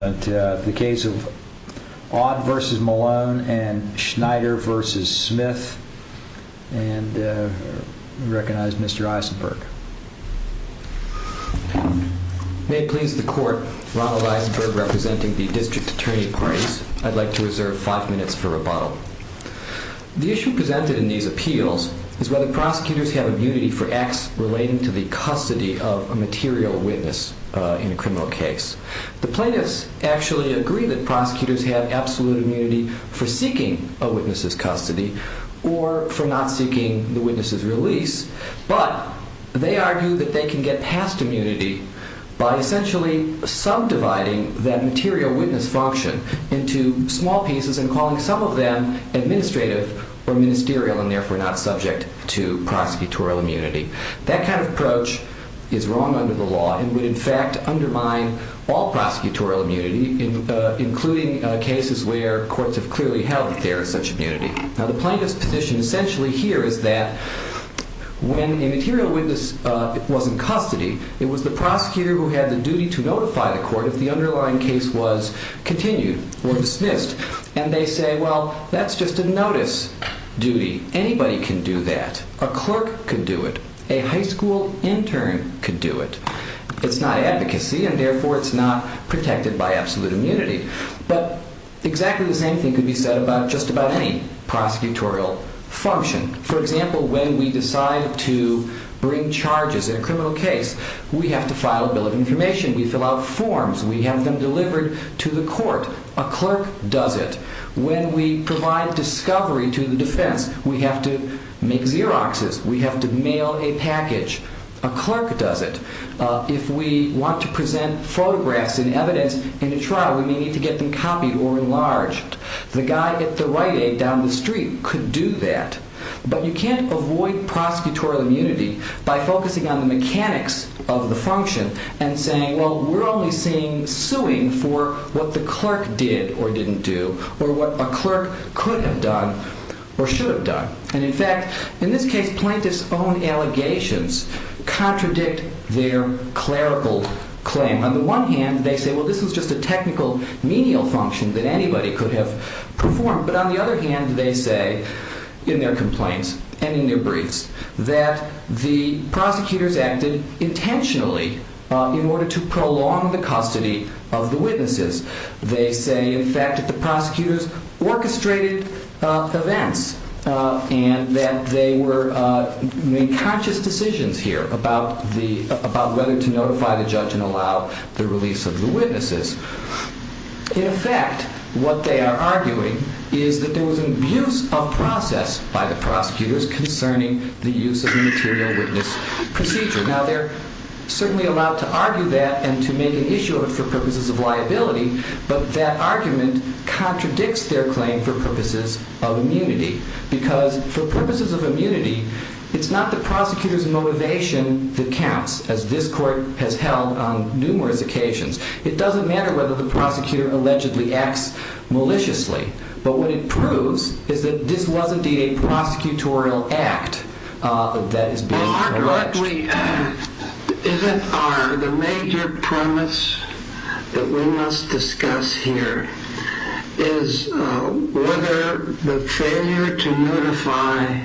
and Schneider v. Smith, and we recognize Mr. Eisenberg. May it please the Court, Ronald Eisenberg representing the District Attorney parties. I'd like to reserve five minutes for rebuttal. The issue presented in these appeals is whether prosecutors have immunity for acts relating to the custody of a material witness in a criminal case. The plaintiffs actually agree that prosecutors have absolute immunity for seeking a witness's custody or for not seeking the witness's release, but they argue that they can get past immunity by essentially subdividing that material witness function into small pieces and calling some of them administrative or ministerial and therefore not subject to prosecutorial immunity. That kind of approach is wrong under the law and would in fact undermine all prosecutorial immunity, including cases where courts have clearly held that there is such immunity. Now the plaintiff's position essentially here is that when a material witness was in custody, it was the prosecutor who had the duty to notify the court if the underlying case was continued or dismissed. And they say, well, that's just a notice duty. Anybody can do that. A clerk could do it. A high school intern could do it. It's not advocacy and therefore it's not protected by absolute immunity. But exactly the same thing could be said about just about any prosecutorial function. For example, when we decide to bring charges in a criminal case, we have to file a bill of information. We fill out forms. We have them delivered to the court. A clerk does it. When we provide discovery to the defense, we have to make Xeroxes. We have to mail a package. A clerk does it. If we want to present photographs and evidence in a trial, we may need to get them copied or enlarged. The guy at the right end down the street could do that. But you can't avoid prosecutorial immunity by focusing on the mechanics of the function and saying, well, we're only seeing suing for what the clerk did or didn't do or what a clerk could have done or should have done. And in fact, in this case, plaintiff's own allegations contradict their clerical claim. On the one hand, they say, well, this is just a technical menial function that anybody could have performed. But on the other hand, they say in their complaints and in their briefs that the prosecutors acted intentionally in order to prolong the custody of the witnesses. They say, in fact, that the prosecutors orchestrated events and that they were making conscious decisions here about whether to notify the judge and allow the release of the witnesses. In effect, what they are arguing is that there was an abuse of process by the prosecutors concerning the use of the material witness procedure. Now, they're certainly allowed to argue that and to make an issue of it for purposes of liability. But that argument contradicts their claim for purposes of immunity. Because for purposes of immunity, it's not the prosecutor's motivation that counts, as this court has held on numerous occasions. It doesn't matter whether the prosecutor allegedly acts maliciously. But what it proves is that this was indeed a prosecutorial act that is being alleged. The major premise that we must discuss here is whether the failure to notify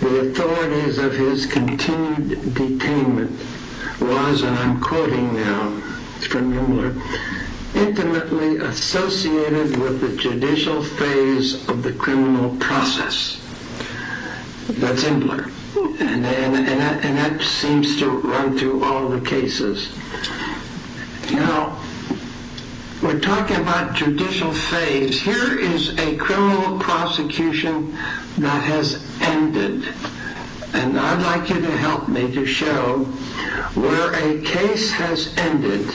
the authorities of his continued detainment was, and I'm quoting now from Imbler, intimately associated with the judicial phase of the criminal process. That's Imbler. And that seems to run through all the cases. Now, we're talking about judicial phase. Here is a criminal prosecution that has ended. And I'd like you to help me to show where a case has ended,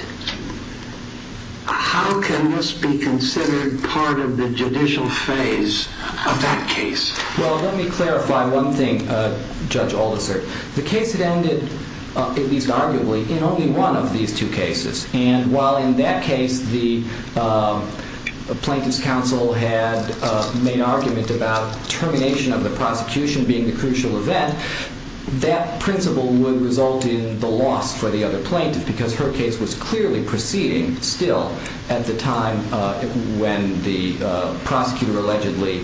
how can this be considered part of the judicial phase of that case? Well, let me clarify one thing, Judge Aldiser. The case had ended, at least arguably, in only one of these two cases. And while in that case the plaintiff's counsel had made argument about termination of the prosecution being the crucial event, that principle would result in the loss for the other plaintiff because her case was clearly proceeding still at the time when the prosecutor allegedly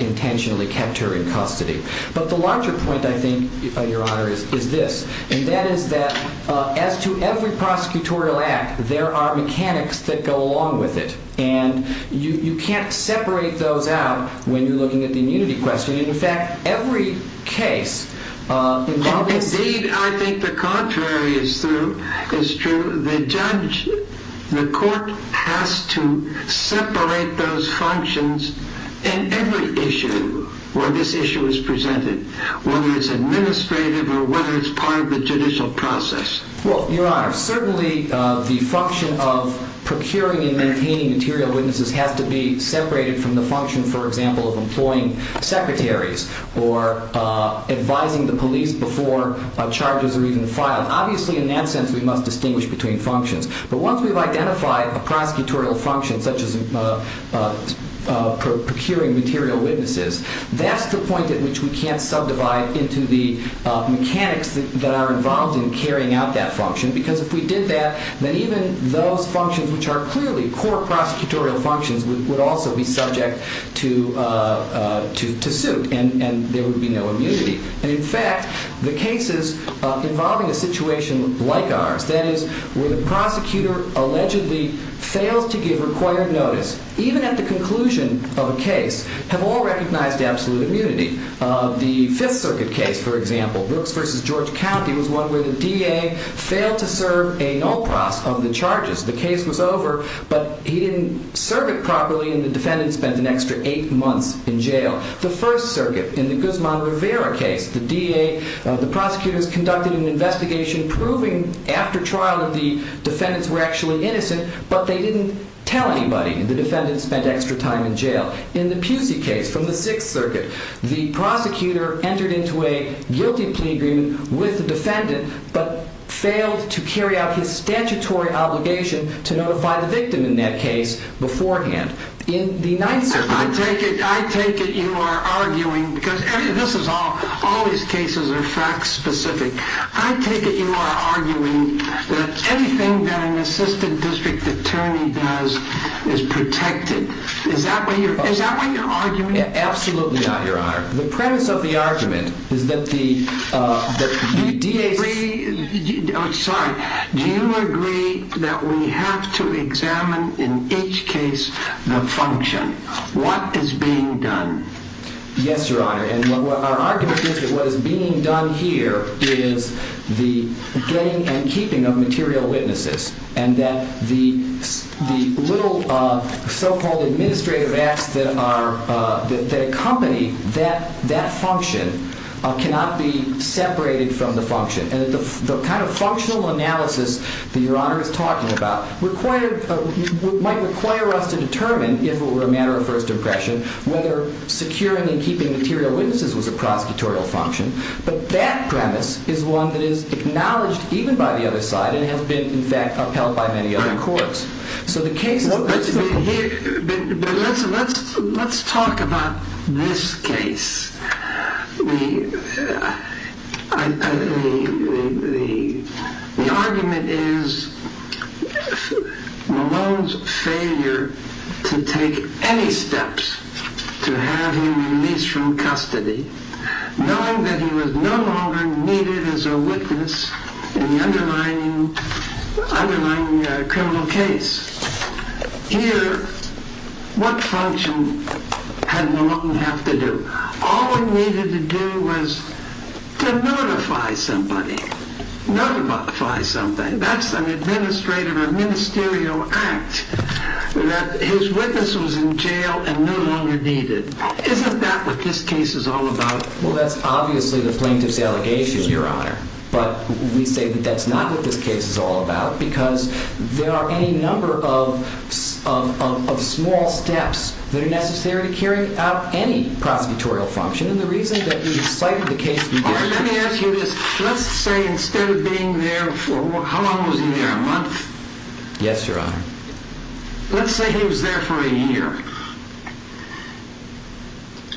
intentionally kept her in custody. But the larger point, I think, Your Honor, is this. And that is that, as to every prosecutorial act, there are mechanics that go along with it. And you can't separate those out when you're looking at the immunity question. In fact, every case— Indeed, I think the contrary is true. The judge, the court has to separate those functions in every issue where this issue is presented, whether it's administrative or whether it's part of the judicial process. Well, Your Honor, certainly the function of procuring and maintaining material witnesses has to be separated from the function, for example, of employing secretaries or advising the police before charges are even filed. Obviously, in that sense, we must distinguish between functions. But once we've identified a prosecutorial function, such as procuring material witnesses, that's the point at which we can't subdivide into the mechanics that are involved in carrying out that function. Because if we did that, then even those functions which are clearly core prosecutorial functions would also be subject to suit, and there would be no immunity. And in fact, the cases involving a situation like ours, that is, where the prosecutor allegedly fails to give required notice, even at the conclusion of a case, have all recognized absolute immunity. The Fifth Circuit case, for example, Brooks v. George County, was one where the DA failed to serve a null process of the charges. The case was over, but he didn't serve it properly, and the defendant spent an extra eight months in jail. The First Circuit, in the Guzman-Rivera case, the DA, the prosecutors conducted an investigation proving, after trial, that the defendants were actually innocent, but they didn't tell anybody. The defendant spent extra time in jail. In the Pusey case from the Sixth Circuit, the prosecutor entered into a guilty plea agreement with the defendant, but failed to carry out his statutory obligation to notify the victim in that case beforehand. I take it you are arguing, because all these cases are fact-specific. I take it you are arguing that anything that an assistant district attorney does is protected. Is that what you're arguing? Absolutely not, Your Honor. The premise of the argument is that the DA... What is being done? Yes, Your Honor, and our argument is that what is being done here is the getting and keeping of material witnesses, and that the little so-called administrative acts that accompany that function cannot be separated from the function. The kind of functional analysis that Your Honor is talking about might require us to determine, if it were a matter of first impression, whether securing and keeping material witnesses was a prosecutorial function, but that premise is one that is acknowledged even by the other side and has been, in fact, upheld by many other courts. Let's talk about this case. The argument is Malone's failure to take any steps to have him released from custody, knowing that he was no longer needed as a witness in the underlying criminal case. Here, what function had Malone have to do? All he needed to do was to notify somebody. Notify somebody. That's an administrative or ministerial act that his witness was in jail and no longer needed. Isn't that what this case is all about? Well, that's obviously the plaintiff's allegation, Your Honor, but we say that that's not what this case is all about because there are any number of small steps that are necessary to carrying out any prosecutorial function, and the reason that we cited the case we did. All right, let me ask you this. Let's say instead of being there for, how long was he there, a month? Yes, Your Honor. Let's say he was there for a year.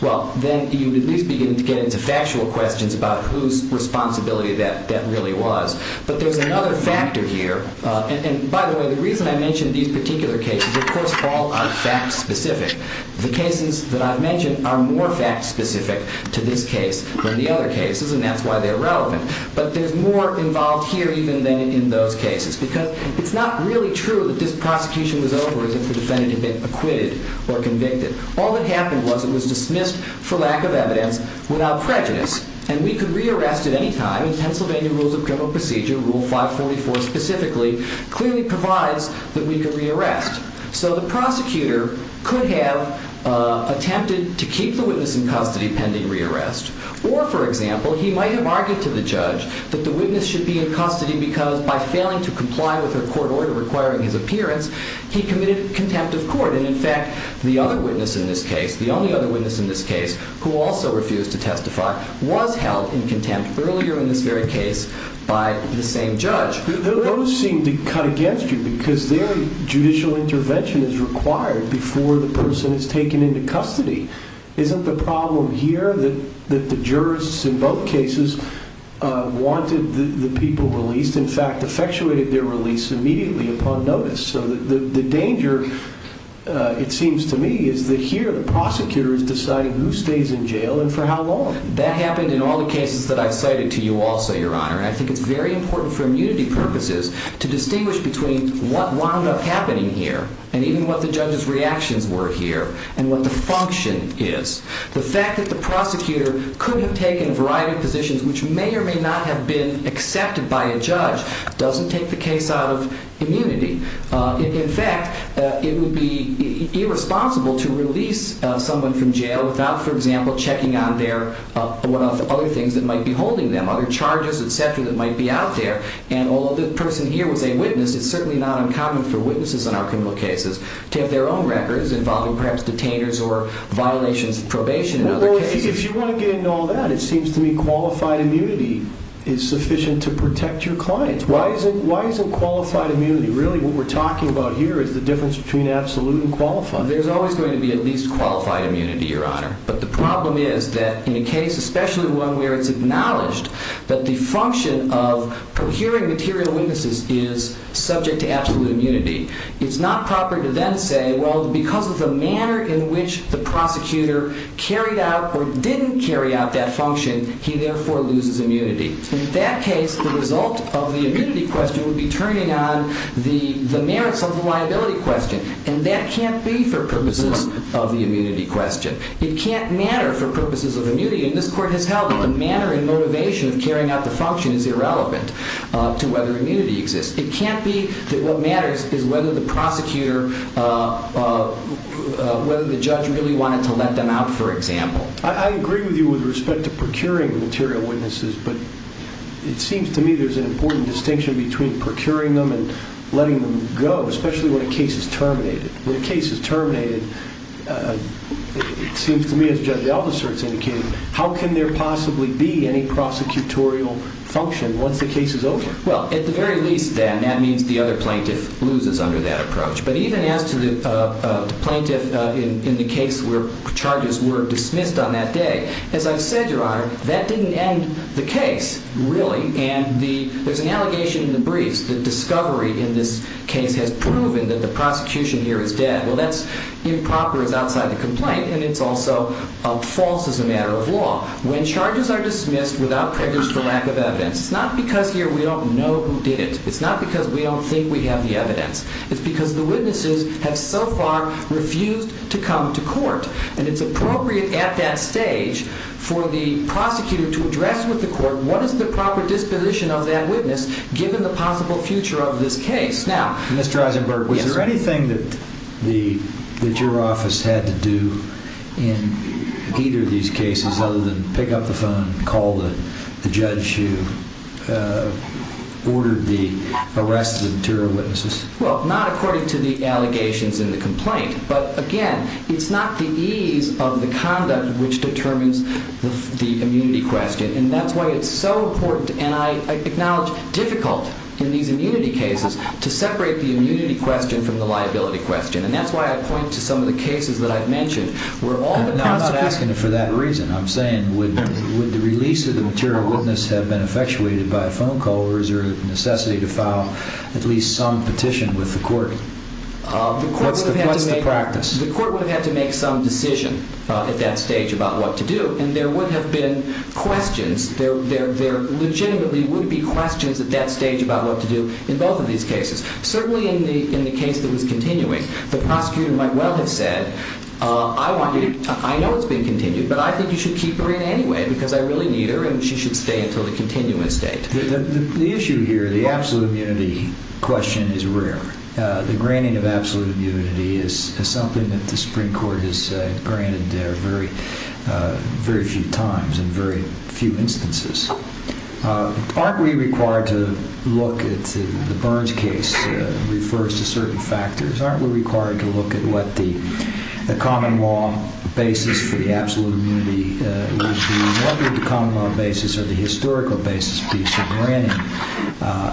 Well, then you would at least begin to get into factual questions about whose responsibility that really was. But there's another factor here, and by the way, the reason I mention these particular cases, of course, all are fact-specific. The cases that I've mentioned are more fact-specific to this case than the other cases, and that's why they're relevant. But there's more involved here even than in those cases because it's not really true that this prosecution was over if the defendant had been acquitted or convicted. All that happened was it was dismissed for lack of evidence without prejudice, and we could re-arrest at any time, and Pennsylvania Rules of Criminal Procedure, Rule 544 specifically, clearly provides that we could re-arrest. So the prosecutor could have attempted to keep the witness in custody pending re-arrest, or, for example, he might have argued to the judge that the witness should be in custody because by failing to comply with her court order requiring his appearance, he committed contempt of court. And in fact, the other witness in this case, the only other witness in this case who also refused to testify, was held in contempt earlier in this very case by the same judge. Those seem to cut against you because there, judicial intervention is required before the person is taken into custody. Isn't the problem here that the jurists in both cases wanted the people released, in fact, effectuated their release immediately upon notice? So the danger, it seems to me, is that here the prosecutor is deciding who stays in jail and for how long. That happened in all the cases that I've cited to you also, Your Honor. I think it's very important for immunity purposes to distinguish between what wound up happening here and even what the judge's reactions were here and what the function is. The fact that the prosecutor could have taken a variety of positions which may or may not have been accepted by a judge doesn't take the case out of immunity. In fact, it would be irresponsible to release someone from jail without, for example, checking on their other things that might be holding them, other charges, et cetera, that might be out there. And although the person here was a witness, it's certainly not uncommon for witnesses in our criminal cases to have their own records involving perhaps detainers or violations of probation in other cases. Well, if you want to get into all that, it seems to me qualified immunity is sufficient to protect your clients. Why isn't qualified immunity really what we're talking about here is the difference between absolute and qualified? There's always going to be at least qualified immunity, Your Honor. But the problem is that in a case, especially one where it's acknowledged, that the function of procuring material witnesses is subject to absolute immunity. It's not proper to then say, well, because of the manner in which the prosecutor carried out or didn't carry out that function, he therefore loses immunity. In that case, the result of the immunity question would be turning on the merits of the liability question. And that can't be for purposes of the immunity question. It can't matter for purposes of immunity. And this court has held that the manner and motivation of carrying out the function is irrelevant to whether immunity exists. It can't be that what matters is whether the prosecutor, whether the judge really wanted to let them out, for example. I agree with you with respect to procuring material witnesses, but it seems to me there's an important distinction between procuring them and letting them go, especially when a case is terminated. When a case is terminated, it seems to me, as Judge Althusser has indicated, how can there possibly be any prosecutorial function once the case is over? Well, at the very least, then, that means the other plaintiff loses under that approach. But even as to the plaintiff in the case where charges were dismissed on that day, as I've said, Your Honor, that didn't end the case, really. And there's an allegation in the briefs that discovery in this case has proven that the prosecution here is dead. Well, that's improper as outside the complaint, and it's also false as a matter of law. When charges are dismissed without prejudice for lack of evidence, it's not because here we don't know who did it. It's not because we don't think we have the evidence. It's because the witnesses have so far refused to come to court. And it's appropriate at that stage for the prosecutor to address with the court what is the proper disposition of that witness given the possible future of this case. Mr. Eisenberg, was there anything that your office had to do in either of these cases other than pick up the phone, call the judge who ordered the arrest of the two witnesses? Well, not according to the allegations in the complaint. But, again, it's not the ease of the conduct which determines the immunity question. And that's why it's so important, and I acknowledge difficult in these immunity cases to separate the immunity question from the liability question. And that's why I point to some of the cases that I've mentioned where all the possible I'm not asking for that reason. I'm saying would the release of the material witness have been effectuated by a phone call or is there a necessity to file at least some petition with the court? What's the practice? The court would have had to make some decision at that stage about what to do. And there would have been questions. There legitimately would be questions at that stage about what to do in both of these cases. Certainly in the case that was continuing, the prosecutor might well have said, I know it's been continued, but I think you should keep her in anyway because I really need her and she should stay until the continuing state. The issue here, the absolute immunity question is rare. The granting of absolute immunity is something that the Supreme Court has granted very few times in very few instances. Aren't we required to look at the Burns case refers to certain factors. Aren't we required to look at what the common law basis for the absolute immunity would be? What would the common law basis or the historical basis be for granting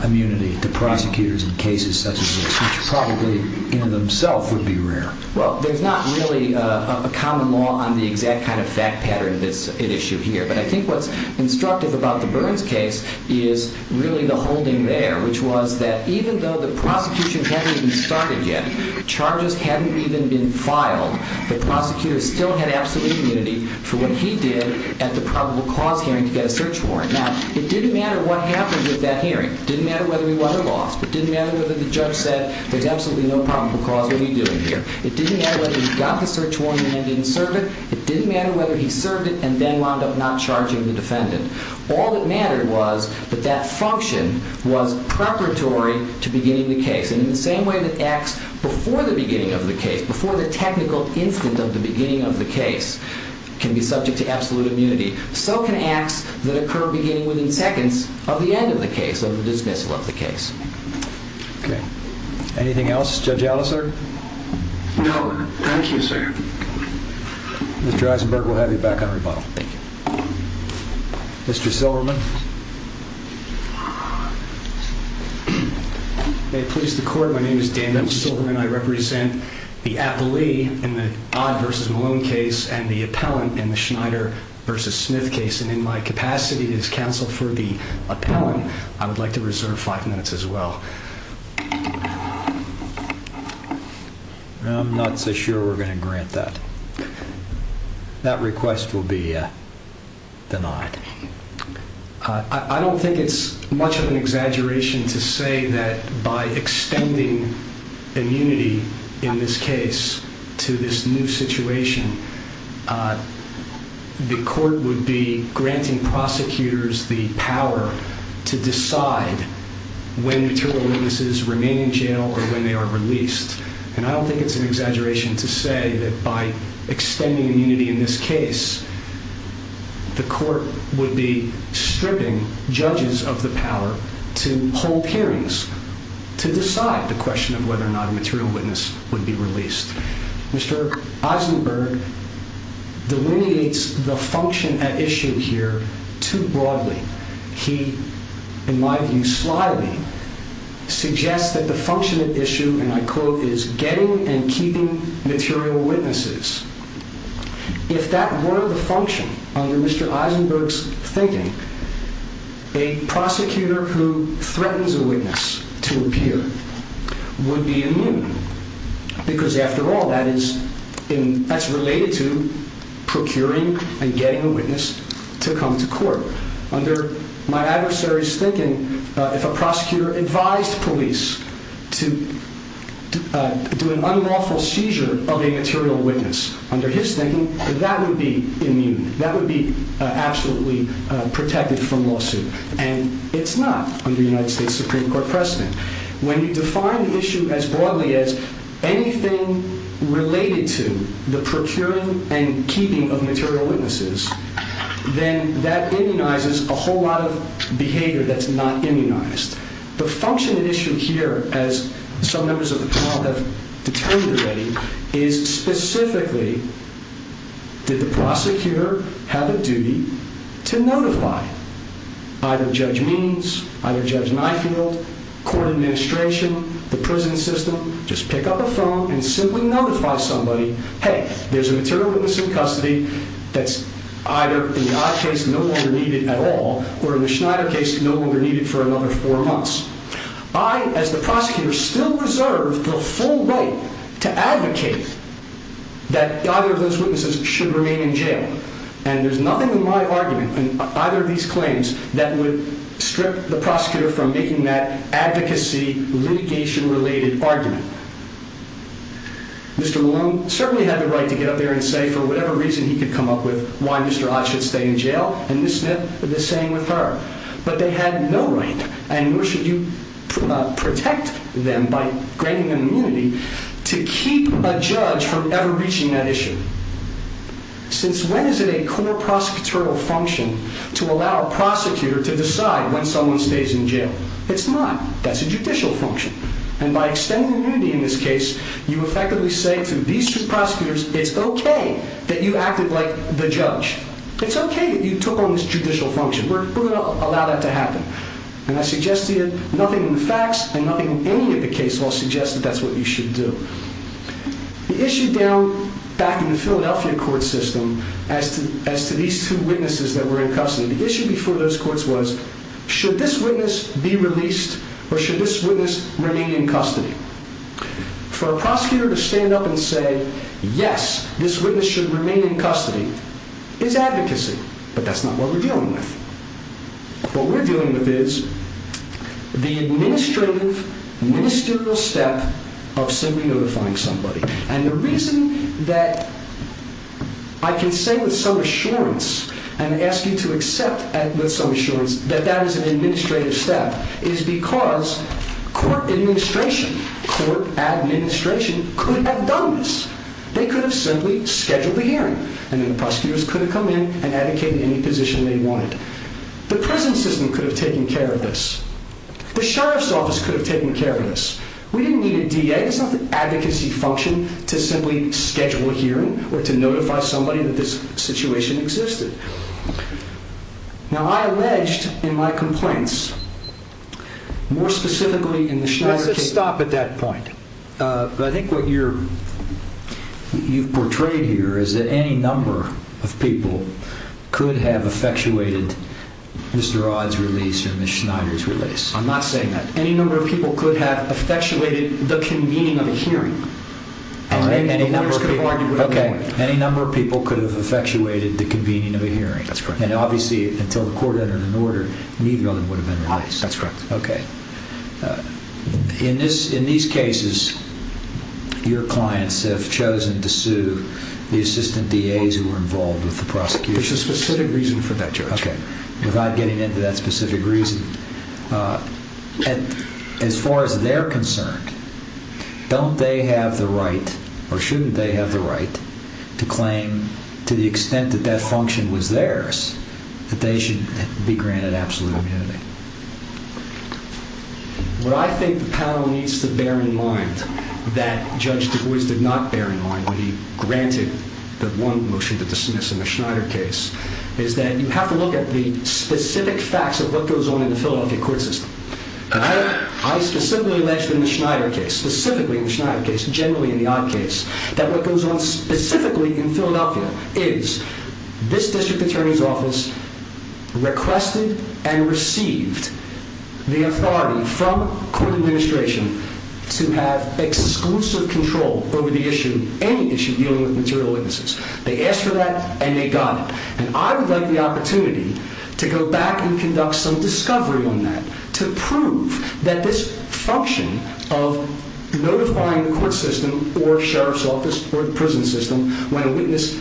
immunity to prosecutors in cases such as this, which probably in themselves would be rare? Well, there's not really a common law on the exact kind of fact pattern that's at issue here. But I think what's instructive about the Burns case is really the holding there, which was that even though the prosecution hadn't even started yet, charges hadn't even been filed, the prosecutor still had absolute immunity for what he did at the probable cause hearing to get a search warrant. Now, it didn't matter what happened with that hearing. It didn't matter whether we won or lost. It didn't matter whether the judge said there's absolutely no probable cause. What are we doing here? It didn't matter whether he got the search warrant and didn't serve it. It didn't matter whether he served it and then wound up not charging the defendant. All that mattered was that that function was preparatory to beginning the case. And in the same way that acts before the beginning of the case, before the technical instant of the beginning of the case, can be subject to absolute immunity, so can acts that occur beginning within seconds of the end of the case, of the dismissal of the case. Okay. Anything else? Judge Alliser? No. Thank you, sir. Mr. Eisenberg, we'll have you back on rebuttal. Thank you. Mr. Silverman? May it please the court, my name is Dan Silverman. I represent the appellee in the Odd versus Malone case and the appellant in the Schneider versus Smith case. And in my capacity as counsel for the appellant, I would like to reserve five minutes as well. I'm not so sure we're going to grant that. That request will be denied. I don't think it's much of an exaggeration to say that by extending immunity in this case to this new situation, the court would be granting prosecutors the power to decide when material witnesses remain in jail or when they are released. And I don't think it's an exaggeration to say that by extending immunity in this case, the court would be stripping judges of the power to hold hearings, to decide the question of whether or not a material witness would be released. Mr. Eisenberg delineates the function at issue here too broadly. He, in my view slyly, suggests that the function at issue, and I quote, is getting and keeping material witnesses. If that were the function, under Mr. Eisenberg's thinking, a prosecutor who threatens a witness to appear would be immune. Because after all, that's related to procuring and getting a witness to come to court. Under my adversary's thinking, if a prosecutor advised police to do an unlawful seizure of a material witness, under his thinking, that would be immune. That would be absolutely protected from lawsuit. And it's not under United States Supreme Court precedent. When you define the issue as broadly as anything related to the procuring and keeping of material witnesses, then that immunizes a whole lot of behavior that's not immunized. The function at issue here, as some members of the panel have determined already, is specifically did the prosecutor have a duty to notify either Judge Means, either Judge Nyfield, court administration, the prison system, just pick up a phone and simply notify somebody, hey, there's a material witness in custody that's either in my case no longer needed at all or in the Schneider case no longer needed for another four months. I, as the prosecutor, still reserve the full right to advocate that either of those witnesses should remain in jail. And there's nothing in my argument, in either of these claims, that would strip the prosecutor from making that advocacy, litigation-related argument. Mr. Malone certainly had the right to get up there and say, for whatever reason he could come up with, why Mr. Ott should stay in jail, and Ms. Smith the same with her. But they had no right, and nor should you protect them by granting them immunity, to keep a judge from ever reaching that issue. Since when is it a core prosecutorial function to allow a prosecutor to decide when someone stays in jail? It's not. That's a judicial function. And by extending immunity in this case, you effectively say to these two prosecutors, it's okay that you acted like the judge. It's okay that you took on this judicial function. We're going to allow that to happen. And I suggest to you, nothing in the facts and nothing in any of the cases will suggest that that's what you should do. The issue down back in the Philadelphia court system, as to these two witnesses that were in custody, the issue before those courts was, should this witness be released, or should this witness remain in custody? For a prosecutor to stand up and say, yes, this witness should remain in custody, is advocacy. But that's not what we're dealing with. What we're dealing with is the administrative, ministerial step of simply notifying somebody. And the reason that I can say with some assurance, and ask you to accept with some assurance, that that is an administrative step, is because court administration, court administration, could have done this. And then the prosecutors could have come in and advocated any position they wanted. The prison system could have taken care of this. The sheriff's office could have taken care of this. We didn't need a DA. It's not the advocacy function to simply schedule a hearing or to notify somebody that this situation existed. Now, I alleged in my complaints, more specifically in the Schneider case. Let's just stop at that point. But I think what you've portrayed here is that any number of people could have effectuated Mr. Odd's release or Ms. Schneider's release. I'm not saying that. Any number of people could have effectuated the convening of a hearing. Any number of people could have effectuated the convening of a hearing. That's correct. And obviously, until the court entered an order, neither of them would have been released. That's correct. Okay. In these cases, your clients have chosen to sue the assistant DAs who were involved with the prosecution. There's a specific reason for that, Judge. Okay. Without getting into that specific reason, as far as they're concerned, don't they have the right, or shouldn't they have the right, to claim, to the extent that that function was theirs, that they should be granted absolute immunity? What I think the panel needs to bear in mind, that Judge Du Bois did not bear in mind when he granted the one motion to dismiss in the Schneider case, is that you have to look at the specific facts of what goes on in the Philadelphia court system. I specifically mentioned in the Schneider case, specifically in the Schneider case, generally in the odd case, that what goes on specifically in Philadelphia is this district attorney's office requested and received the authority from court administration to have exclusive control over the issue, any issue dealing with material witnesses. They asked for that, and they got it. And I would like the opportunity to go back and conduct some discovery on that, to prove that this function of notifying the court system, or sheriff's office, or the prison system, when a witness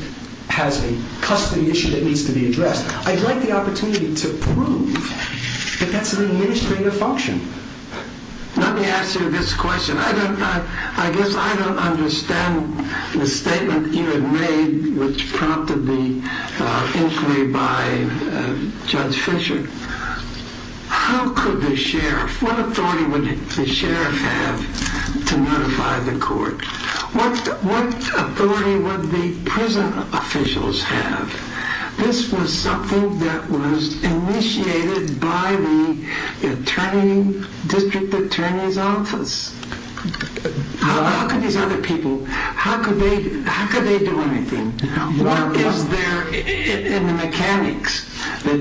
has a custody issue that needs to be addressed, I'd like the opportunity to prove that that's an administrative function. Let me ask you this question. I guess I don't understand the statement you had made, which prompted the inquiry by Judge Fischer. How could the sheriff, what authority would the sheriff have to notify the court? What authority would the prison officials have? This was something that was initiated by the district attorney's office. How could these other people, how could they do anything? What is there in the mechanics that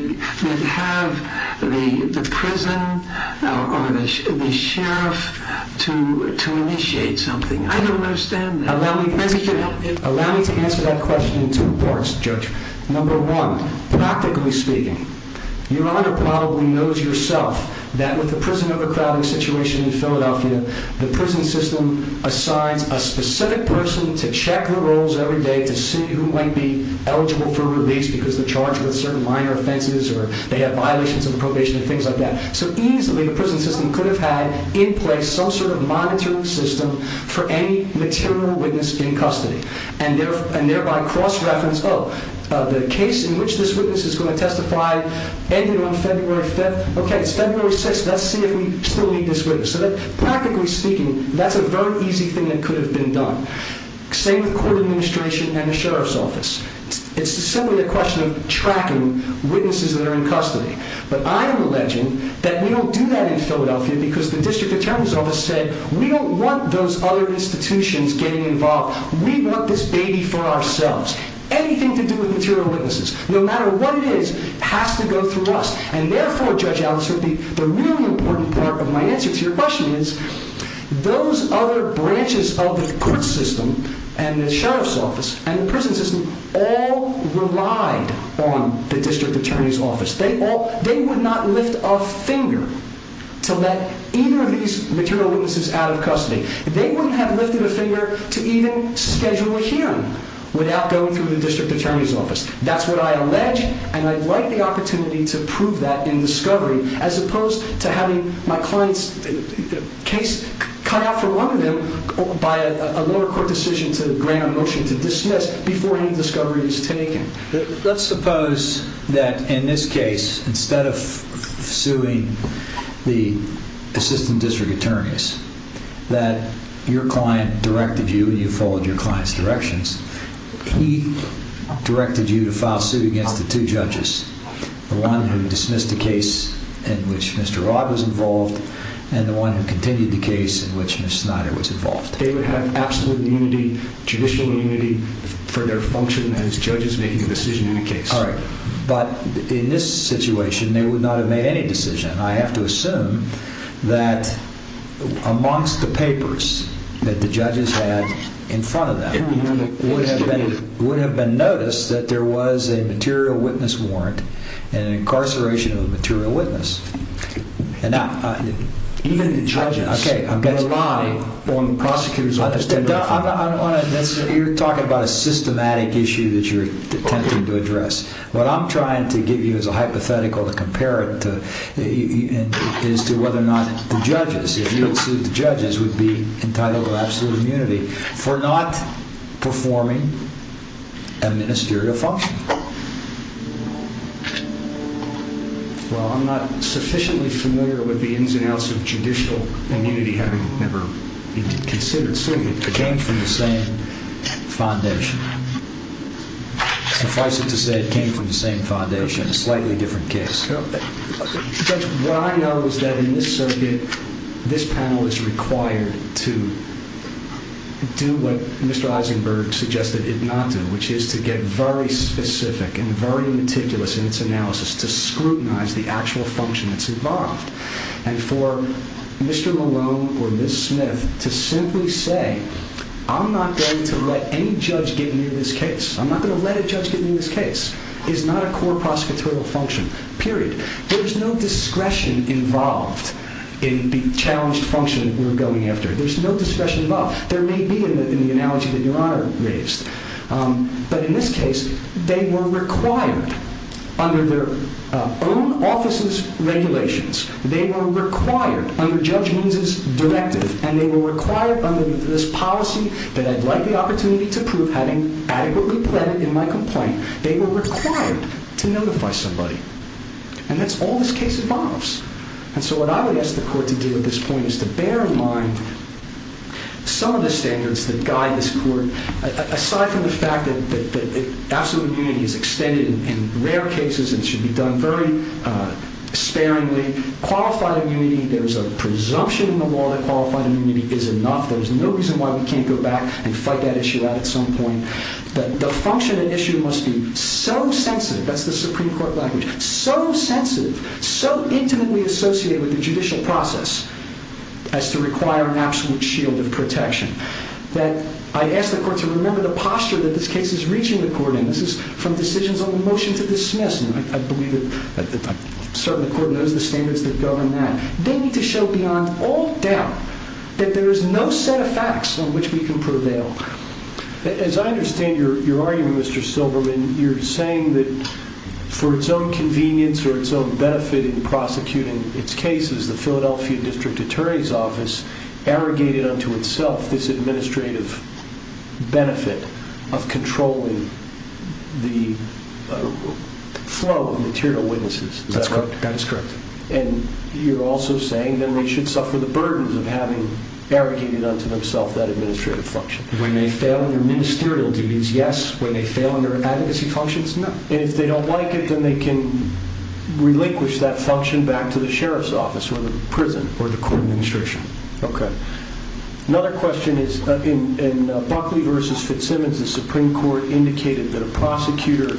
have the prison or the sheriff to initiate something? I don't understand that. Allow me to answer that question in two parts, Judge. Number one, practically speaking, Your Honor probably knows yourself that with the prison overcrowding situation in Philadelphia, the prison system assigns a specific person to check the rolls every day to see who might be eligible for release because they're charged with certain minor offenses or they have violations of the probation and things like that. So easily, the prison system could have had in place some sort of monitoring system for any material witness in custody and thereby cross-reference, oh, the case in which this witness is going to testify ended on February 5th. Okay, it's February 6th. Let's see if we still need this witness. Practically speaking, that's a very easy thing that could have been done. Same with court administration and the sheriff's office. It's simply a question of tracking witnesses that are in custody. because the district attorney's office said, we don't want those other institutions getting involved. We want this baby for ourselves. Anything to do with material witnesses, no matter what it is, has to go through us. And therefore, Judge Allison, the really important part of my answer to your question is those other branches of the court system and the sheriff's office and the prison system all relied on the district attorney's office. They would not lift a finger to let either of these material witnesses out of custody. They wouldn't have lifted a finger to even schedule a hearing without going through the district attorney's office. That's what I allege, and I'd like the opportunity to prove that in discovery, as opposed to having my client's case cut out for one of them by a lower court decision to grant a motion to dismiss before any discovery is taken. Let's suppose that in this case, instead of suing the assistant district attorneys, that your client directed you and you followed your client's directions, he directed you to file suit against the two judges, the one who dismissed the case in which Mr. Rod was involved and the one who continued the case in which Ms. Snyder was involved. They would have absolute immunity, judicial immunity for their function as judges making a decision in the case. All right, but in this situation, they would not have made any decision. I have to assume that amongst the papers that the judges had in front of them would have been noticed that there was a material witness warrant and an incarceration of a material witness. Even the judges rely on the prosecutor's office. You're talking about a systematic issue that you're attempting to address. What I'm trying to give you is a hypothetical to compare it to as to whether or not the judges, if you had sued the judges, would be entitled to absolute immunity for not performing a ministerial function. Well, I'm not sufficiently familiar with the ins and outs of judicial immunity having never been considered. It came from the same foundation. Suffice it to say it came from the same foundation, a slightly different case. What I know is that in this circuit, this panel is required to do what Mr. Eisenberg suggested it not do, which is to get very specific and very meticulous in its analysis to scrutinize the actual function that's involved. And for Mr. Malone or Ms. Smith to simply say, I'm not going to let any judge get near this case, I'm not going to let a judge get near this case, is not a core prosecutorial function, period. There's no discretion involved in the challenged function we're going after. There's no discretion involved. There may be in the analogy that Your Honor raised. But in this case, they were required under their own office's regulations, they were required under Judge Means' directive, and they were required under this policy that I'd like the opportunity to prove having adequately pledged in my complaint, they were required to notify somebody. And that's all this case involves. And so what I would ask the court to do at this point is to bear in mind some of the standards that guide this court. Aside from the fact that absolute immunity is extended in rare cases and should be done very sparingly, qualified immunity, there's a presumption in the law that qualified immunity is enough, there's no reason why we can't go back and fight that issue out at some point, that the function at issue must be so sensitive, that's the Supreme Court language, so sensitive, so intimately associated with the judicial process as to require an absolute shield of protection. I ask the court to remember the posture that this case is reaching the court in. This is from decisions on the motion to dismiss, and I believe that certainly the court knows the standards that govern that. They need to show beyond all doubt that there is no set of facts on which we can prevail. As I understand your argument, Mr. Silberman, you're saying that for its own convenience or its own benefit in prosecuting its cases, the Philadelphia District Attorney's Office arrogated unto itself this administrative benefit of controlling the flow of material witnesses. That's correct. And you're also saying that they should suffer the burdens of having arrogated unto themselves that administrative function. When they fail in their ministerial duties, yes. When they fail in their advocacy functions, no. And if they don't like it, then they can relinquish that function and bring it back to the sheriff's office or the prison or the court administration. Okay. Another question is in Buckley v. Fitzsimmons, the Supreme Court indicated that a prosecutor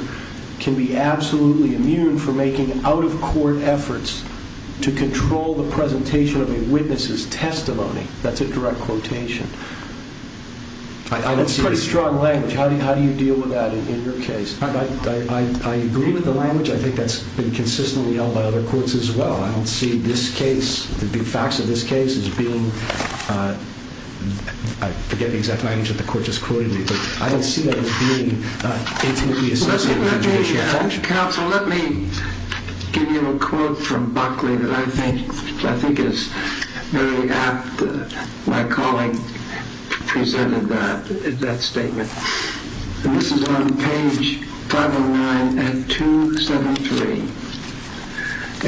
can be absolutely immune from making out-of-court efforts to control the presentation of a witness's testimony. That's a direct quotation. That's pretty strong language. I agree with the language. I think that's been consistently held by other courts as well. I don't see this case, the facts of this case, as being – I forget the exact language that the court just quoted me, but I don't see that as being intimately associated with an issue of function. Counsel, let me give you a quote from Buckley that I think is very apt. My colleague presented that statement. This is on page 509 at 273.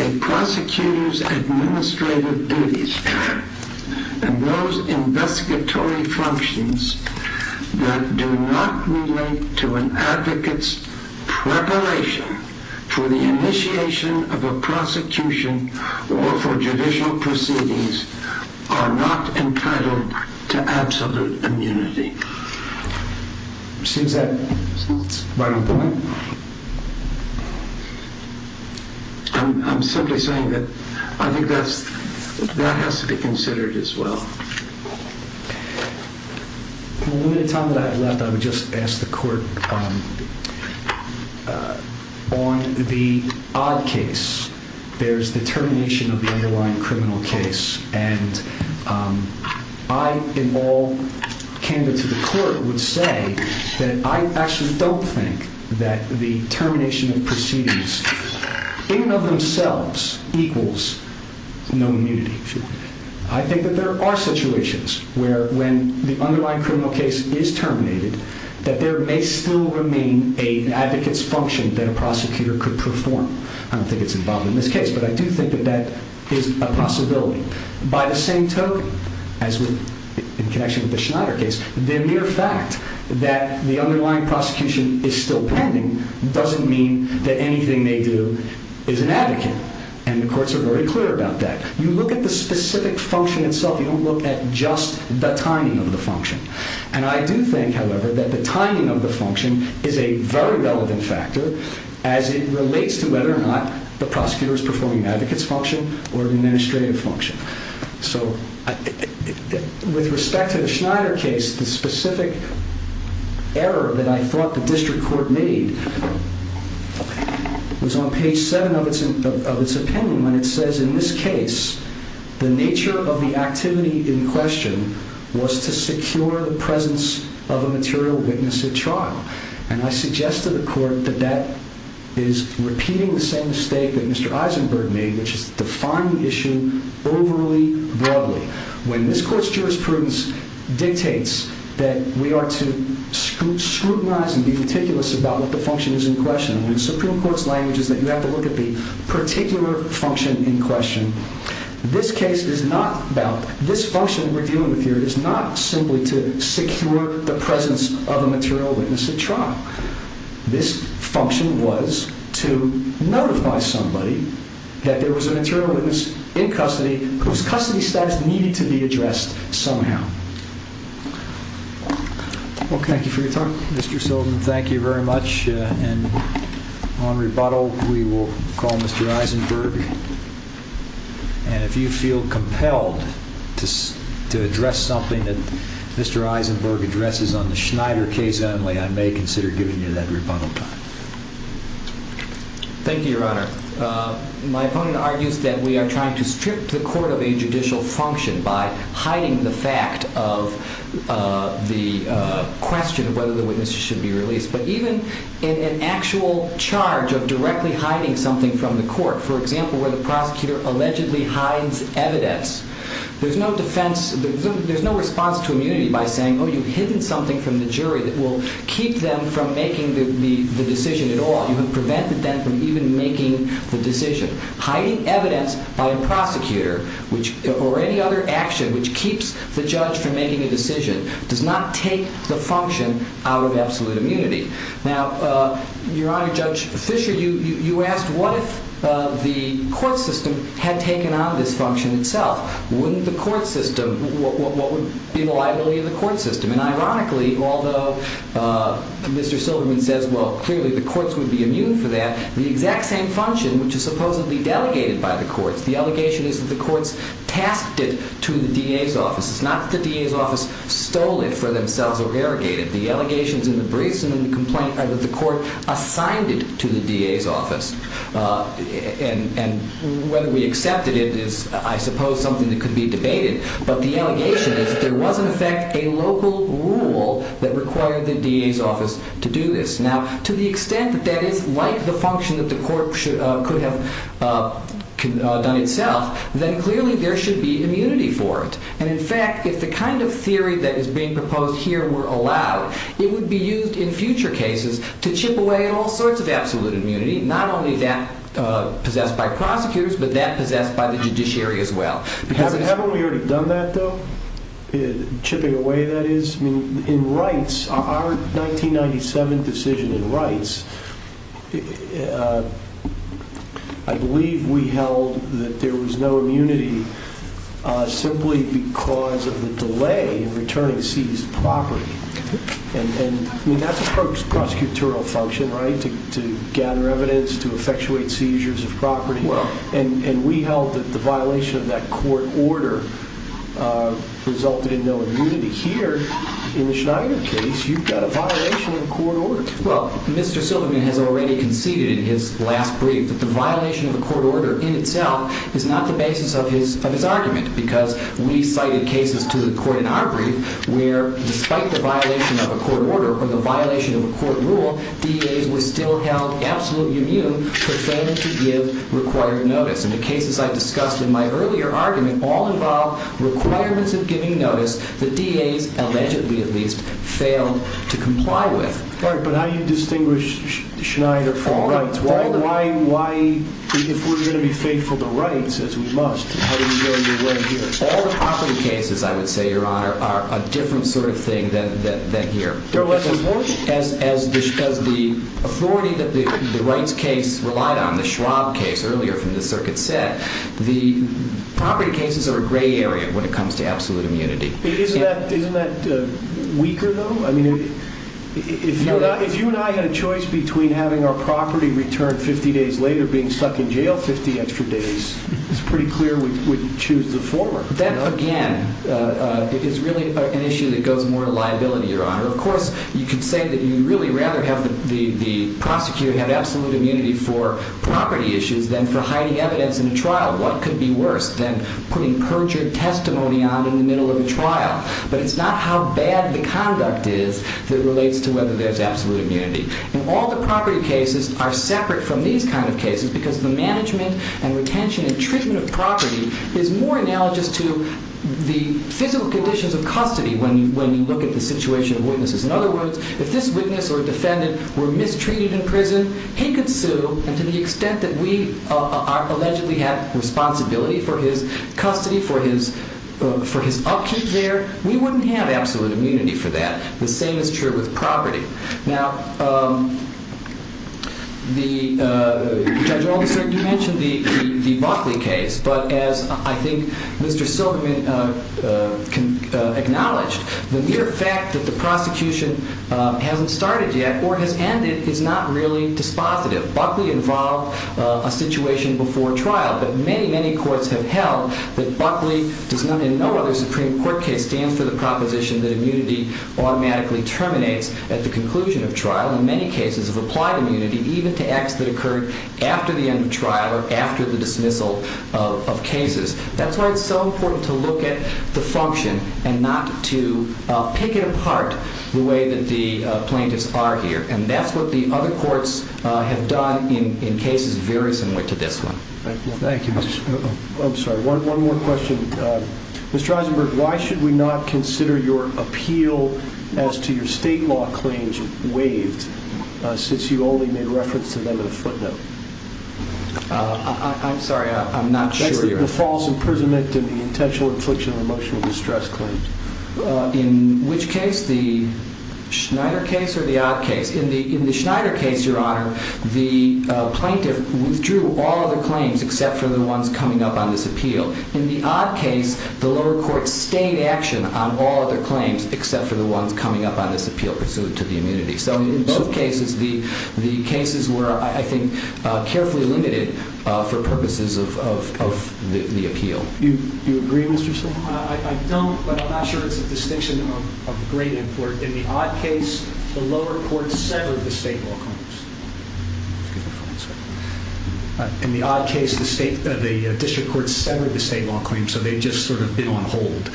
A prosecutor's administrative duties and those investigatory functions that do not relate to an advocate's preparation for the initiation of a prosecution or for judicial proceedings are not entitled to absolute immunity. Seems that's right on point. I'm simply saying that I think that has to be considered as well. In the limited time that I have left, I would just ask the court on the odd case. There's the termination of the underlying criminal case, and I in all candor to the court would say that I actually don't think that the termination of proceedings in and of themselves equals no immunity. I think that there are situations where when the underlying criminal case is terminated, that there may still remain an advocate's function that a prosecutor could perform. I don't think it's involved in this case, but I do think that that is a possibility. By the same token, in connection with the Schneider case, the mere fact that the underlying prosecution is still pending doesn't mean that anything they do is an advocate. And the courts are very clear about that. You look at the specific function itself. You don't look at just the timing of the function. And I do think, however, that the timing of the function is a very relevant factor as it relates to whether or not the prosecutor is performing an advocate's function or an administrative function. So with respect to the Schneider case, the specific error that I thought the district court made was on page 7 of its opinion when it says, in this case, the nature of the activity in question was to secure the presence of a material witness at trial. And I suggest to the court that that is repeating the same mistake that Mr. Eisenberg made, which is to define the issue overly broadly. When this court's jurisprudence dictates that we are to scrutinize and be meticulous about what the function is in question, when the Supreme Court's language is that you have to look at the particular function in question, this function we're dealing with here is not simply to secure the presence of a material witness at trial. This function was to notify somebody that there was a material witness in custody whose custody status needed to be addressed somehow. Well, thank you for your time, Mr. Seldin. Thank you very much. And on rebuttal, we will call Mr. Eisenberg. And if you feel compelled to address something that Mr. Eisenberg addresses on the Schneider case only, I may consider giving you that rebuttal time. Thank you, Your Honor. My opponent argues that we are trying to strip the court of a judicial function by hiding the fact of the question of whether the witness should be released. But even in an actual charge of directly hiding something from the court, for example, where the prosecutor allegedly hides evidence, there's no response to immunity by saying, oh, you've hidden something from the jury that will keep them from making the decision at all. You have prevented them from even making the decision. Hiding evidence by a prosecutor or any other action which keeps the judge from making a decision does not take the function out of absolute immunity. Now, Your Honor, Judge Fischer, you asked what if the court system had taken on this function itself. Wouldn't the court system, what would be the liability of the court system? And ironically, although Mr. Silverman says, well, clearly the courts would be immune for that, the exact same function which is supposedly delegated by the courts, the allegation is that the courts tasked it to the DA's office. It's not that the DA's office stole it for themselves or irrigated it. The allegations in the briefs and in the complaint are that the court assigned it to the DA's office. And whether we accepted it is, I suppose, something that could be debated. But the allegation is that there was, in effect, a local rule that required the DA's office to do this. Now, to the extent that that is like the function that the court could have done itself, then clearly there should be immunity for it. And, in fact, if the kind of theory that is being proposed here were allowed, it would be used in future cases to chip away at all sorts of absolute immunity, not only that possessed by prosecutors, but that possessed by the judiciary as well. Haven't we already done that, though? Chipping away, that is? I mean, in rights, our 1997 decision in rights, I believe we held that there was no immunity simply because of the delay in returning seized property. And that's a prosecutorial function, right? To gather evidence, to effectuate seizures of property. And we held that the violation of that court order resulted in no immunity. Here, in the Schneider case, you've got a violation of court order. Well, Mr. Silverman has already conceded in his last brief that the violation of a court order in itself is not the basis of his argument because we cited cases to the court in our brief where, despite the violation of a court order or the violation of a court rule, DA's were still held absolutely immune for failing to give required notice. And the cases I discussed in my earlier argument all involve requirements of giving notice that DA's allegedly, at least, failed to comply with. All right, but how do you distinguish Schneider from rights? Why, if we're going to be faithful to rights, as we must, how do we go your way here? All the property cases, I would say, Your Honor, are a different sort of thing than here. They're less important? As the authority that the rights case relied on, the Schwab case earlier from the circuit set, the property cases are a gray area when it comes to absolute immunity. Isn't that weaker, though? If you and I had a choice between having our property returned 50 days later, being stuck in jail 50 extra days, it's pretty clear we'd choose the former. That, again, is really an issue that goes more to liability, Your Honor. Of course, you could say that you'd really rather have the prosecutor have absolute immunity for property issues than for hiding evidence in a trial. What could be worse than putting perjured testimony on in the middle of a trial? But it's not how bad the conduct is that relates to whether there's absolute immunity. And all the property cases are separate from these kind of cases because the management and retention and treatment of property is more analogous to the physical conditions of custody when you look at the situation of witnesses. In other words, if this witness or defendant were mistreated in prison, he could sue, and to the extent that we allegedly have responsibility for his custody, for his upkeep there, we wouldn't have absolute immunity for that. The same is true with property. Now, Judge Oldenstern, you mentioned the Buckley case, but as I think Mr. Silverman acknowledged, the mere fact that the prosecution hasn't started yet or has ended is not really dispositive. Buckley involved a situation before trial, but many, many courts have held that Buckley, in no other Supreme Court case, stands for the proposition that immunity automatically terminates at the conclusion of trial. And many cases have applied immunity even to acts that occurred after the end of trial or after the dismissal of cases. That's why it's so important to look at the function and not to pick it apart the way that the plaintiffs are here. And that's what the other courts have done in cases very similar to this one. Thank you. I'm sorry, one more question. Mr. Eisenberg, why should we not consider your appeal as to your state law claims waived since you only made reference to them in a footnote? I'm sorry, I'm not sure. The false imprisonment and the intentional infliction of emotional distress claims. In which case, the Schneider case or the odd case? In the Schneider case, Your Honor, the plaintiff withdrew all other claims except for the ones coming up on this appeal. In the odd case, the lower court stayed in action on all other claims except for the ones coming up on this appeal pursuant to the immunity. So in both cases, the cases were, I think, carefully limited for purposes of the appeal. Do you agree, Mr. Steinberg? I don't, but I'm not sure it's a distinction of great importance. In the odd case, the lower court severed the state law claims. Excuse me for one second. In the odd case, the district court severed the state law claims, so they've just sort of been on hold.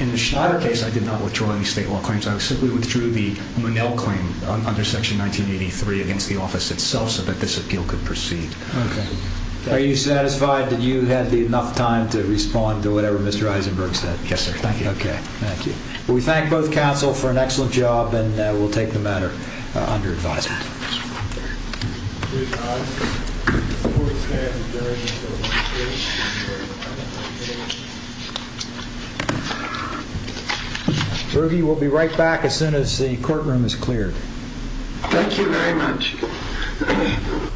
In the Schneider case, I did not withdraw any state law claims. I simply withdrew the Monell claim under Section 1983 against the office itself so that this appeal could proceed. Okay. Are you satisfied that you had enough time to respond to whatever Mr. Eisenberg said? Yes, sir. Thank you. Okay. Thank you. We thank both counsel for an excellent job, and we'll take the matter under advisement. Berge, we'll be right back as soon as the courtroom is cleared. Thank you very much. Thank you.